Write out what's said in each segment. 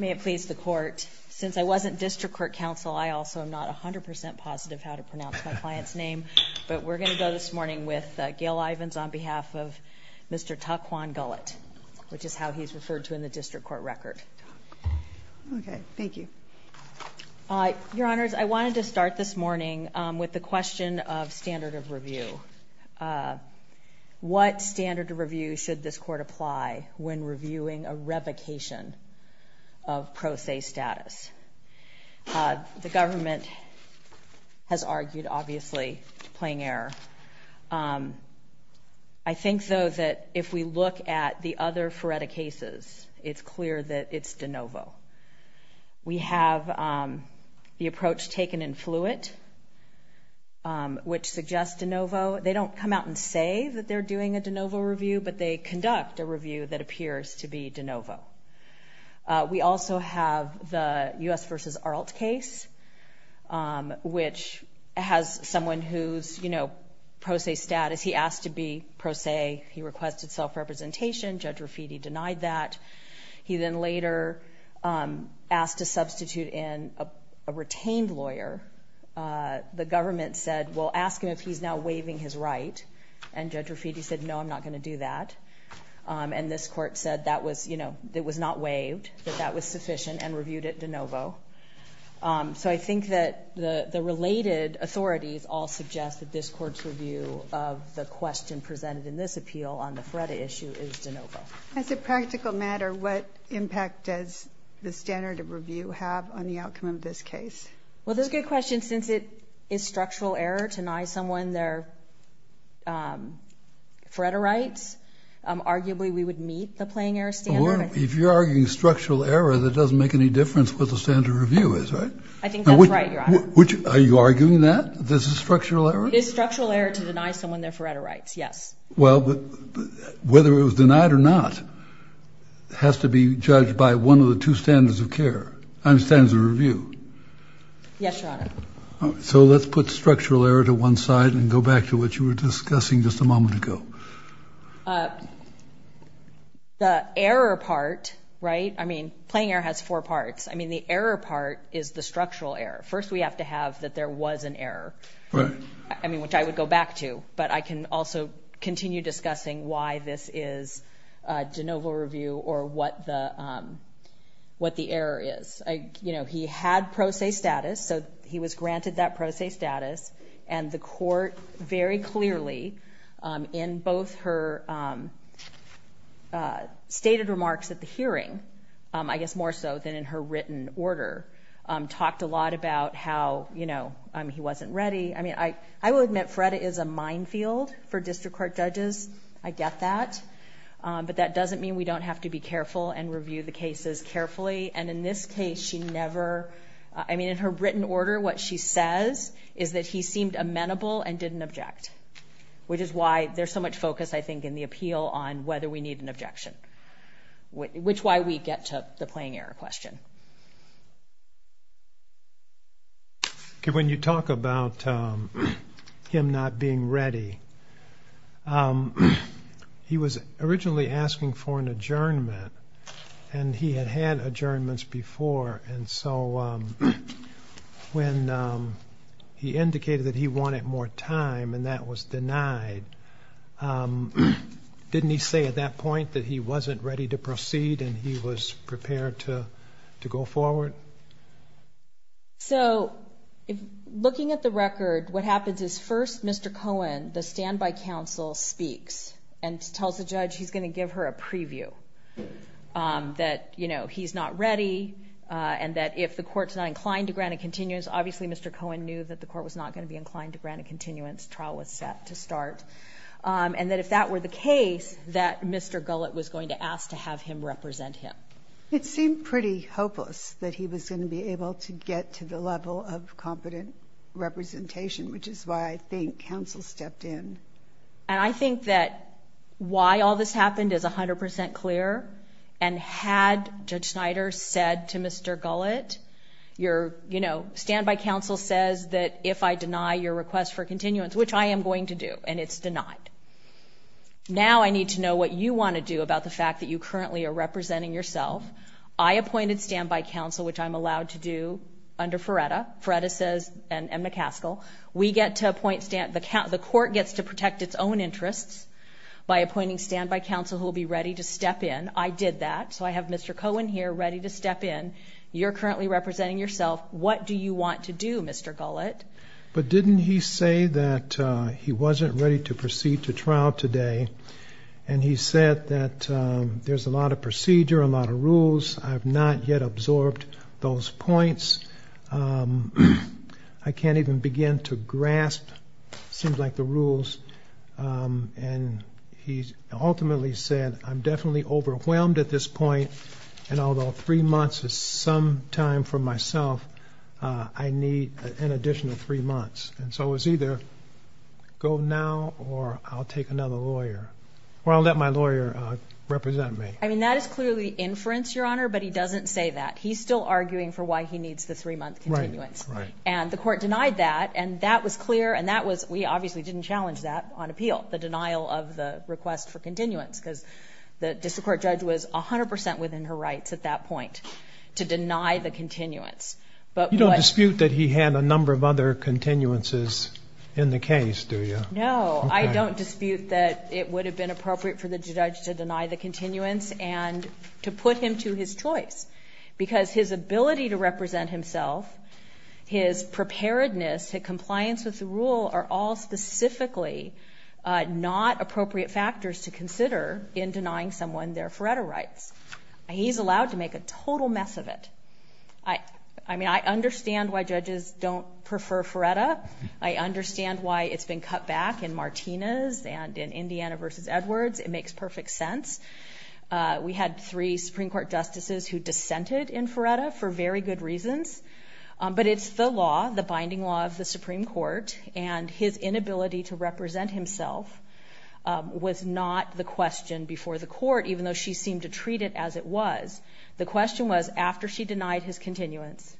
May it please the Court, since I wasn't District Court Counsel, I also am not 100% positive how to pronounce my client's name, but we're going to go this morning with Gail Ivins on behalf of Mr. Taquan Gullett, which is how he's referred to in the District Court record. Okay, thank you. Your Honors, I wanted to start this morning with the question of standard of review. What standard of review should this Court apply when reviewing a revocation of pro se status? The government has argued, obviously, plain error. I think, though, that if we look at the other FRERDA cases, it's clear that it's de novo. We have the approach taken in Fluitt, which suggests de novo. They don't come out and say that they're doing a de novo review, but they conduct a review that appears to be de novo. We also have the U.S. v. Arlt case, which has someone who's, you know, pro se status. He asked to be pro se. He requested self-representation. Judge Raffidi denied that. He then later asked to substitute in a retained lawyer. The government said, well, ask him if he's now waiving his right. And Judge Raffidi said, no, I'm not going to do that. And this Court said that was, you know, it was not waived, that that was sufficient, and reviewed it de novo. So I think that the related authorities all suggest that this Court's review of the question presented in this appeal on the FRERDA issue is de novo. As a practical matter, what impact does the standard of review have on the outcome of this case? Well, that's a good question, since it is structural error to deny someone their FRERDA rights. Arguably, we would meet the plain error standard. Well, if you're arguing structural error, that doesn't make any difference what the standard of review is, right? I think that's right, Your Honor. Are you arguing that this is structural error? It is structural error to deny someone their FRERDA rights, yes. Well, whether it was denied or not has to be judged by one of the two standards of review. Yes, Your Honor. So let's put structural error to one side and go back to what you were discussing just a moment ago. The error part, right? I mean, plain error has four parts. I mean, the error part is the structural error. First, we have to have that there was an error. Right. I mean, which I would go back to, but I can also continue discussing why this is de novo review or what the error is. You know, he had pro se status, so he was granted that pro se status, and the court very clearly in both her stated remarks at the hearing, I guess more so than in her written order, talked a lot about how, you know, he wasn't ready. I mean, I will admit FRERDA is a minefield for district court judges. I get that. But that doesn't mean we don't have to be careful and review the cases carefully. And in this case, she never – I mean, in her written order, what she says is that he seemed amenable and didn't object, which is why there's so much focus, I think, in the appeal on whether we need an objection, which is why we get to the plain error question. Okay. When you talk about him not being ready, he was originally asking for an adjournment, and he had had adjournments before. And so when he indicated that he wanted more time and that was denied, didn't he say at that point that he wasn't ready to proceed and he was prepared to go forward? So looking at the record, what happens is first Mr. Cohen, the standby counsel, speaks and tells the judge he's going to give her a preview that, you know, he's not ready and that if the court's not inclined to grant a continuance, obviously Mr. Cohen knew that the court was not going to be inclined to grant a continuance, trial was set to start, and that if that were the case, that Mr. Gullett was going to ask to have him represent him. It seemed pretty hopeless that he was going to be able to get to the level of competent representation, which is why I think counsel stepped in. And I think that why all this happened is 100% clear, and had Judge Snyder said to Mr. Gullett, you're, you know, standby counsel says that if I deny your request for continuance, which I am going to do, and it's denied. Now I need to know what you want to do about the fact that you currently are representing yourself. I appointed standby counsel, which I'm allowed to do under Feretta. Feretta says, and McCaskill, we get to appoint, the court gets to protect its own interests by appointing standby counsel who will be ready to step in. I did that, so I have Mr. Cohen here ready to step in. You're currently representing yourself. What do you want to do, Mr. Gullett? But didn't he say that he wasn't ready to proceed to trial today, and he said that there's a lot of procedure, a lot of rules. I have not yet absorbed those points. I can't even begin to grasp, it seems like, the rules. And he ultimately said, I'm definitely overwhelmed at this point, and although three months is some time for myself, I need an additional three months. And so it was either go now or I'll take another lawyer, or I'll let my lawyer represent me. I mean, that is clearly inference, Your Honor, but he doesn't say that. He's still arguing for why he needs the three-month continuance. Right, right. And the court denied that, and that was clear, and we obviously didn't challenge that on appeal, the denial of the request for continuance, because the district court judge was 100 percent within her rights at that point to deny the continuance. You don't dispute that he had a number of other continuances in the case, do you? No, I don't dispute that it would have been appropriate for the judge to deny the continuance and to put him to his choice, because his ability to represent himself, his preparedness, his compliance with the rule are all specifically not appropriate factors to consider in denying someone their FRERTA rights. He's allowed to make a total mess of it. I mean, I understand why judges don't prefer FRERTA. I understand why it's been cut back in Martinez and in Indiana v. Edwards. It makes perfect sense. We had three Supreme Court justices who dissented in FRERTA for very good reasons, but it's the law, the binding law of the Supreme Court, and his inability to represent himself was not the question before the court, even though she seemed to treat it as it was. The question was, after she denied his continuance,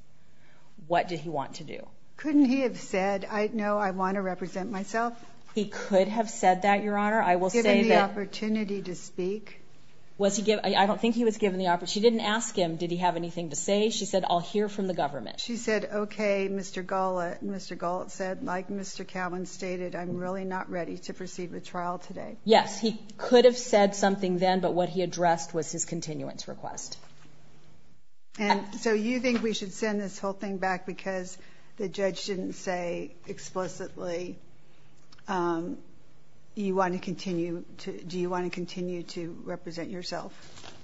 what did he want to do? Couldn't he have said, I know I want to represent myself? He could have said that, Your Honor. Was he given the opportunity to speak? I don't think he was given the opportunity. She didn't ask him, did he have anything to say? She said, I'll hear from the government. She said, okay, Mr. Gullett. Mr. Gullett said, like Mr. Cowan stated, I'm really not ready to proceed with trial today. Yes, he could have said something then, but what he addressed was his continuance request. So you think we should send this whole thing back because the judge didn't say explicitly, do you want to continue to represent yourself?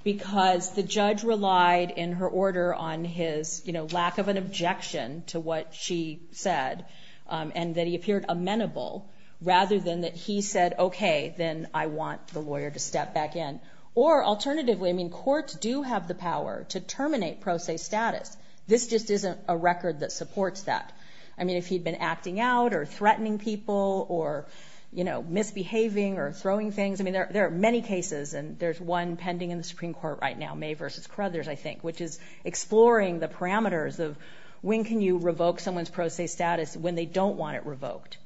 Because the judge relied in her order on his lack of an objection to what she said and that he appeared amenable rather than that he said, okay, then I want the lawyer to step back in. Or alternatively, courts do have the power to terminate pro se status. This just isn't a record that supports that. If he'd been acting out or threatening people or misbehaving or throwing things, I mean, there are many cases and there's one pending in the Supreme Court right now, May v. Crothers, I think, which is exploring the parameters of when can you revoke someone's pro se status when they don't want it revoked.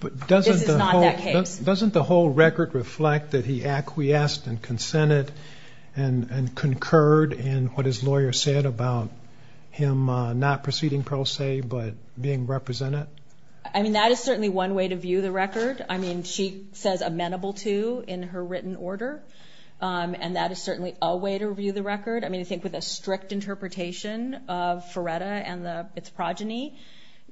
But doesn't the whole record reflect that he acquiesced and consented and concurred in what his lawyer said about him not proceeding pro se but being represented? I mean, that is certainly one way to view the record. I mean, she says amenable to in her written order, and that is certainly a way to view the record. I mean, I think with a strict interpretation of Feretta and its progeny,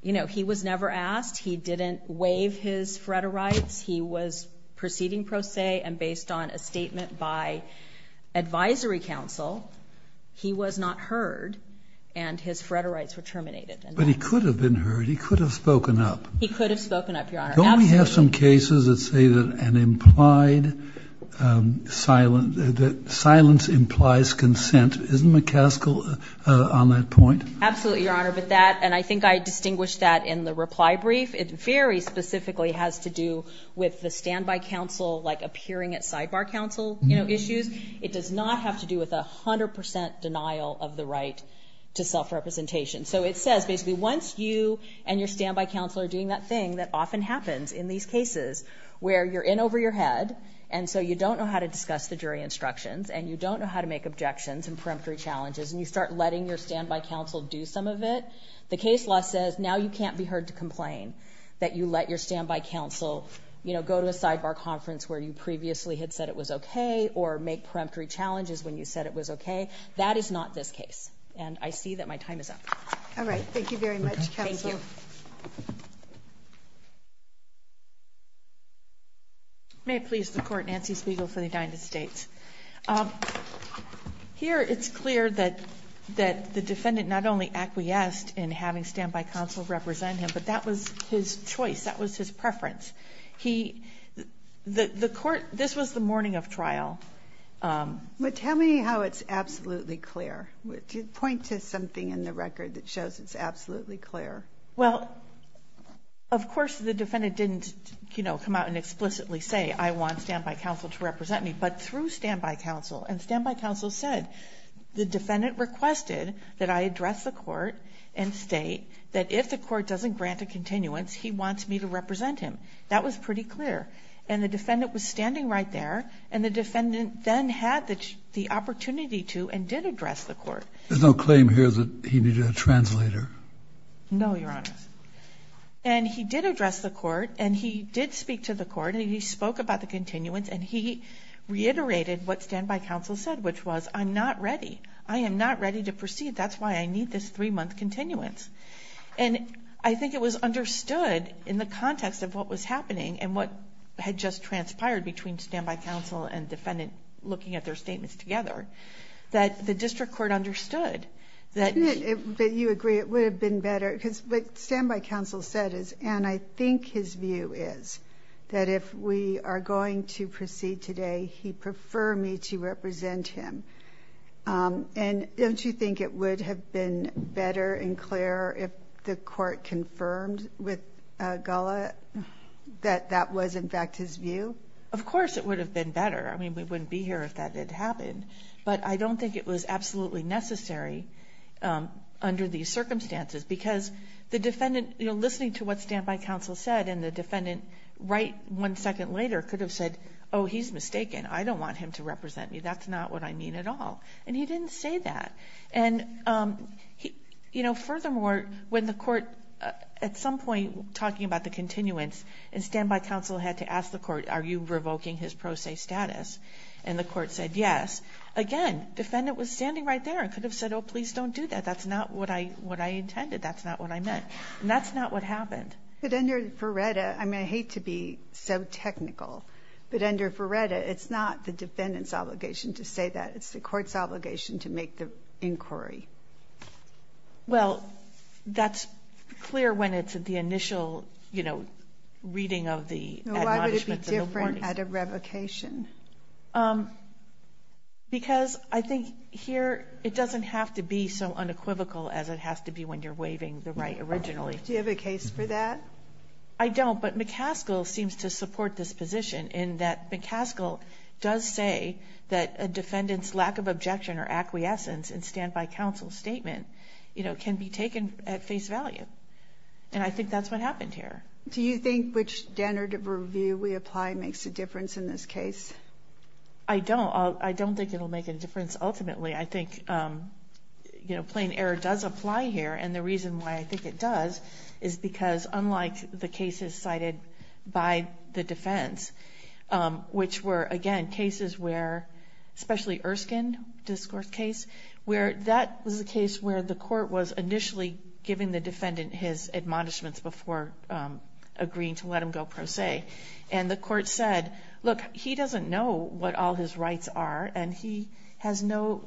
you know, he was never asked. He didn't waive his Feretta rights. He was proceeding pro se, and based on a statement by advisory counsel, he was not heard, and his Feretta rights were terminated. But he could have been heard. He could have spoken up. He could have spoken up, Your Honor. Don't we have some cases that say that silence implies consent? Isn't McCaskill on that point? Absolutely, Your Honor, and I think I distinguished that in the reply brief. It very specifically has to do with the standby counsel, like, appearing at sidebar counsel issues. It does not have to do with 100 percent denial of the right to self-representation. So it says basically once you and your standby counsel are doing that thing that often happens in these cases where you're in over your head and so you don't know how to discuss the jury instructions and you don't know how to make objections and preemptory challenges and you start letting your standby counsel do some of it, the case law says now you can't be heard to complain that you let your standby counsel, you know, go to a sidebar conference where you previously had said it was okay or make preemptory challenges when you said it was okay. That is not this case, and I see that my time is up. All right. Thank you very much, counsel. Thank you. May it please the Court, Nancy Spiegel for the United States. Here it's clear that the defendant not only acquiesced in having standby counsel represent him, but that was his choice. That was his preference. The Court, this was the morning of trial. But tell me how it's absolutely clear. Point to something in the record that shows it's absolutely clear. Well, of course the defendant didn't, you know, come out and explicitly say, I want standby counsel to represent me, but through standby counsel, and standby counsel said the defendant requested that I address the Court and state that if the Court doesn't grant a continuance, he wants me to represent him. That was pretty clear, and the defendant was standing right there and the defendant then had the opportunity to and did address the Court. There's no claim here that he needed a translator. No, Your Honor. And he did address the Court and he did speak to the Court and he spoke about the continuance and he reiterated what standby counsel said, which was, I'm not ready. I am not ready to proceed. That's why I need this three-month continuance. And I think it was understood in the context of what was happening and what had just transpired between standby counsel and defendant looking at their statements together, that the District Court understood that. But you agree it would have been better, because what standby counsel said is, and I think his view is, that if we are going to proceed today, he'd prefer me to represent him. And don't you think it would have been better and clearer if the Court confirmed with Gullah that that was, in fact, his view? Of course it would have been better. I mean, we wouldn't be here if that had happened. But I don't think it was absolutely necessary under these circumstances because the defendant, you know, listening to what standby counsel said and the defendant right one second later could have said, oh, he's mistaken, I don't want him to represent me, that's not what I mean at all. And he didn't say that. And, you know, furthermore, when the Court, at some point, talking about the continuance, and standby counsel had to ask the Court, are you revoking his pro se status? And the Court said yes. Again, defendant was standing right there and could have said, oh, please don't do that, that's not what I intended, that's not what I meant. And that's not what happened. But under FRERETA, I mean, I hate to be so technical, but under FRERETA it's not the defendant's obligation to say that, it's the Court's obligation to make the inquiry. Well, that's clear when it's at the initial, you know, reading of the admonishments and the warnings. Why would it be different at a revocation? Because I think here it doesn't have to be so unequivocal as it has to be when you're waiving the right originally. Do you have a case for that? I don't, but McCaskill seems to support this position in that McCaskill does say that a defendant's lack of objection or acquiescence in standby counsel's statement, you know, can be taken at face value. And I think that's what happened here. Do you think which standard of review we apply makes a difference in this case? I don't. I don't think it will make a difference ultimately. I think, you know, plain error does apply here, and the reason why I think it does is because, unlike the cases cited by the defense, which were, again, cases where especially Erskine discourse case, where that was a case where the court was initially giving the defendant his admonishments before agreeing to let him go pro se. And the court said, look, he doesn't know what all his rights are, and he has no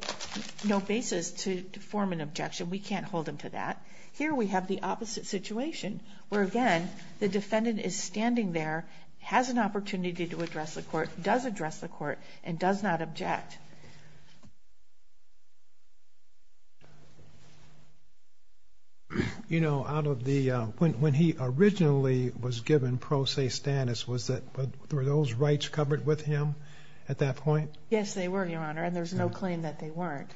basis to form an objection. We can't hold him to that. Here we have the opposite situation where, again, the defendant is standing there, has an opportunity to address the court, does address the court, and does not object. You know, when he originally was given pro se status, were those rights covered with him at that point? Yes, they were, Your Honor, and there's no claim that they weren't.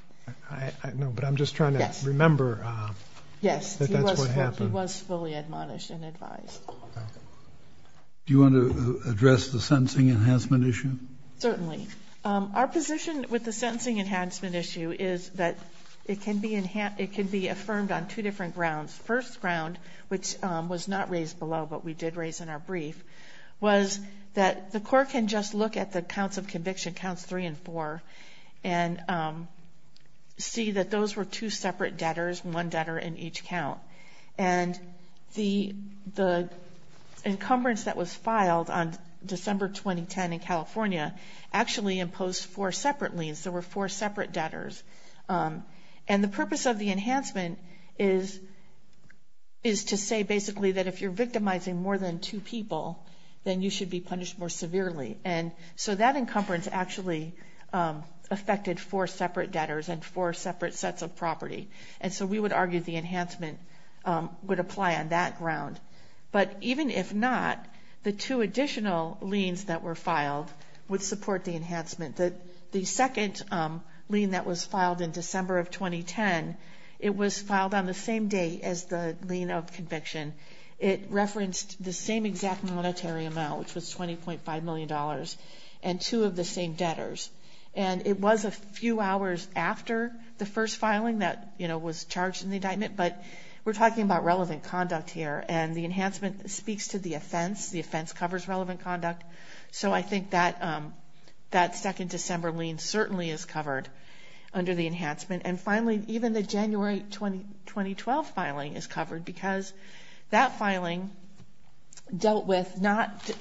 No, but I'm just trying to remember that that's what happened. Yes, he was fully admonished and advised. Do you want to address the sentencing enhancement issue? Certainly. Our position with the sentencing enhancement issue is that it can be affirmed on two different grounds. First ground, which was not raised below but we did raise in our brief, was that the court can just look at the counts of conviction, counts three and four, and see that those were two separate debtors, one debtor in each count. And the encumbrance that was filed on December 2010 in California actually imposed four separate liens. There were four separate debtors. And the purpose of the enhancement is to say basically that if you're victimizing more than two people, then you should be punished more severely. And so that encumbrance actually affected four separate debtors and four separate sets of property. And so we would argue the enhancement would apply on that ground. But even if not, the two additional liens that were filed would support the enhancement. The second lien that was filed in December of 2010, it was filed on the same day as the lien of conviction. It referenced the same exact monetary amount, which was $20.5 million, and two of the same debtors. And it was a few hours after the first filing that was charged in the indictment, but we're talking about relevant conduct here. And the enhancement speaks to the offense. The offense covers relevant conduct. So I think that second December lien certainly is covered under the enhancement. And finally, even the January 2012 filing is covered because that filing dealt with not the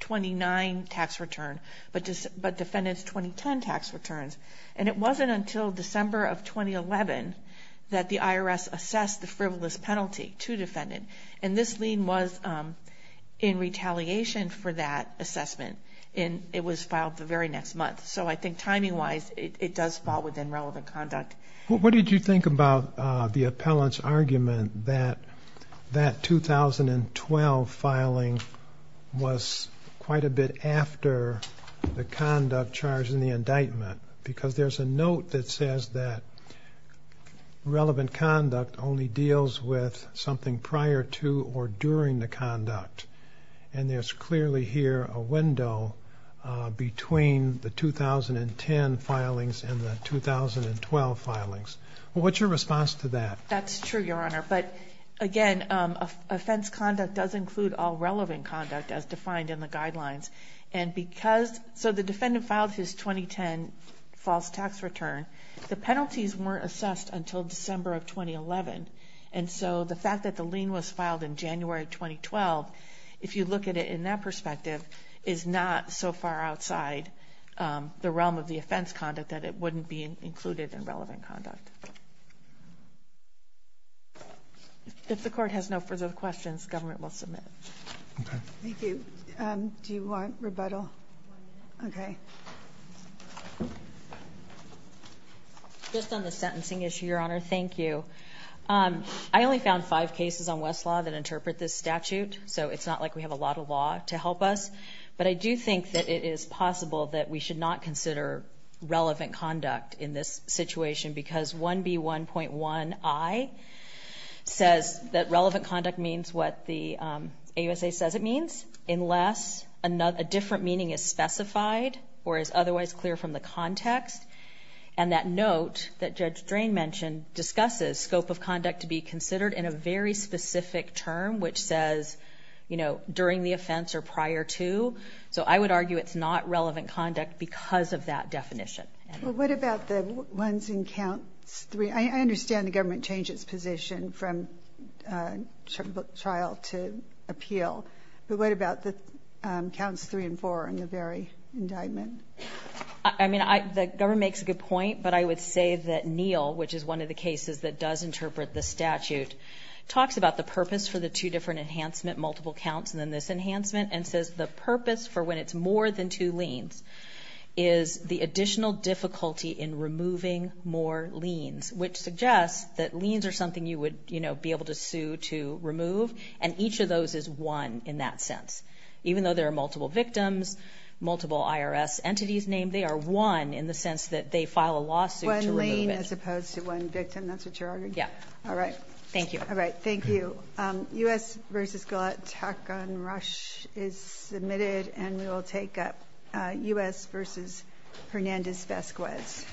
2009 tax return, but defendant's 2010 tax returns. And it wasn't until December of 2011 that the IRS assessed the frivolous penalty to defendant. And this lien was in retaliation for that assessment, and it was filed the very next month. So I think timing-wise, it does fall within relevant conduct. What did you think about the appellant's argument that that 2012 filing was quite a bit after the conduct charged in the indictment? Because there's a note that says that relevant conduct only deals with something prior to or during the conduct. And there's clearly here a window between the 2010 filings and the 2012 filings. What's your response to that? That's true, Your Honor. But again, offense conduct does include all relevant conduct as defined in the guidelines. So the defendant filed his 2010 false tax return. The penalties weren't assessed until December of 2011. And so the fact that the lien was filed in January 2012, if you look at it in that perspective, is not so far outside the realm of the offense conduct that it wouldn't be included in relevant conduct. If the Court has no further questions, Government will submit. Okay. Thank you. Do you want rebuttal? Okay. Just on the sentencing issue, Your Honor, thank you. I only found five cases on Westlaw that interpret this statute, so it's not like we have a lot of law to help us. But I do think that it is possible that we should not consider relevant conduct in this situation because 1B1.1i says that relevant conduct means what the AUSA says it means, unless a different meaning is specified or is otherwise clear from the context. And that note that Judge Drain mentioned discusses scope of conduct to be considered in a very specific term, which says, you know, during the offense or prior to. So I would argue it's not relevant conduct because of that definition. Well, what about the ones and counts three? I understand the Government changed its position from trial to appeal. But what about the counts three and four in the very indictment? I mean, the Government makes a good point, but I would say that Neal, which is one of the cases that does interpret the statute, talks about the purpose for the two different enhancement multiple counts and then this enhancement and says the purpose for when it's more than two liens is the additional difficulty in removing more liens, which suggests that liens are something you would, you know, be able to sue to remove, and each of those is one in that sense. Even though there are multiple victims, multiple IRS entities named, they are one in the sense that they file a lawsuit to remove it. One lien as opposed to one victim. That's what you're arguing? Yeah. All right. Thank you. All right. Thank you. U.S. v. Galatek and Rush is submitted, and we will take up U.S. v. Hernandez-Vasquez.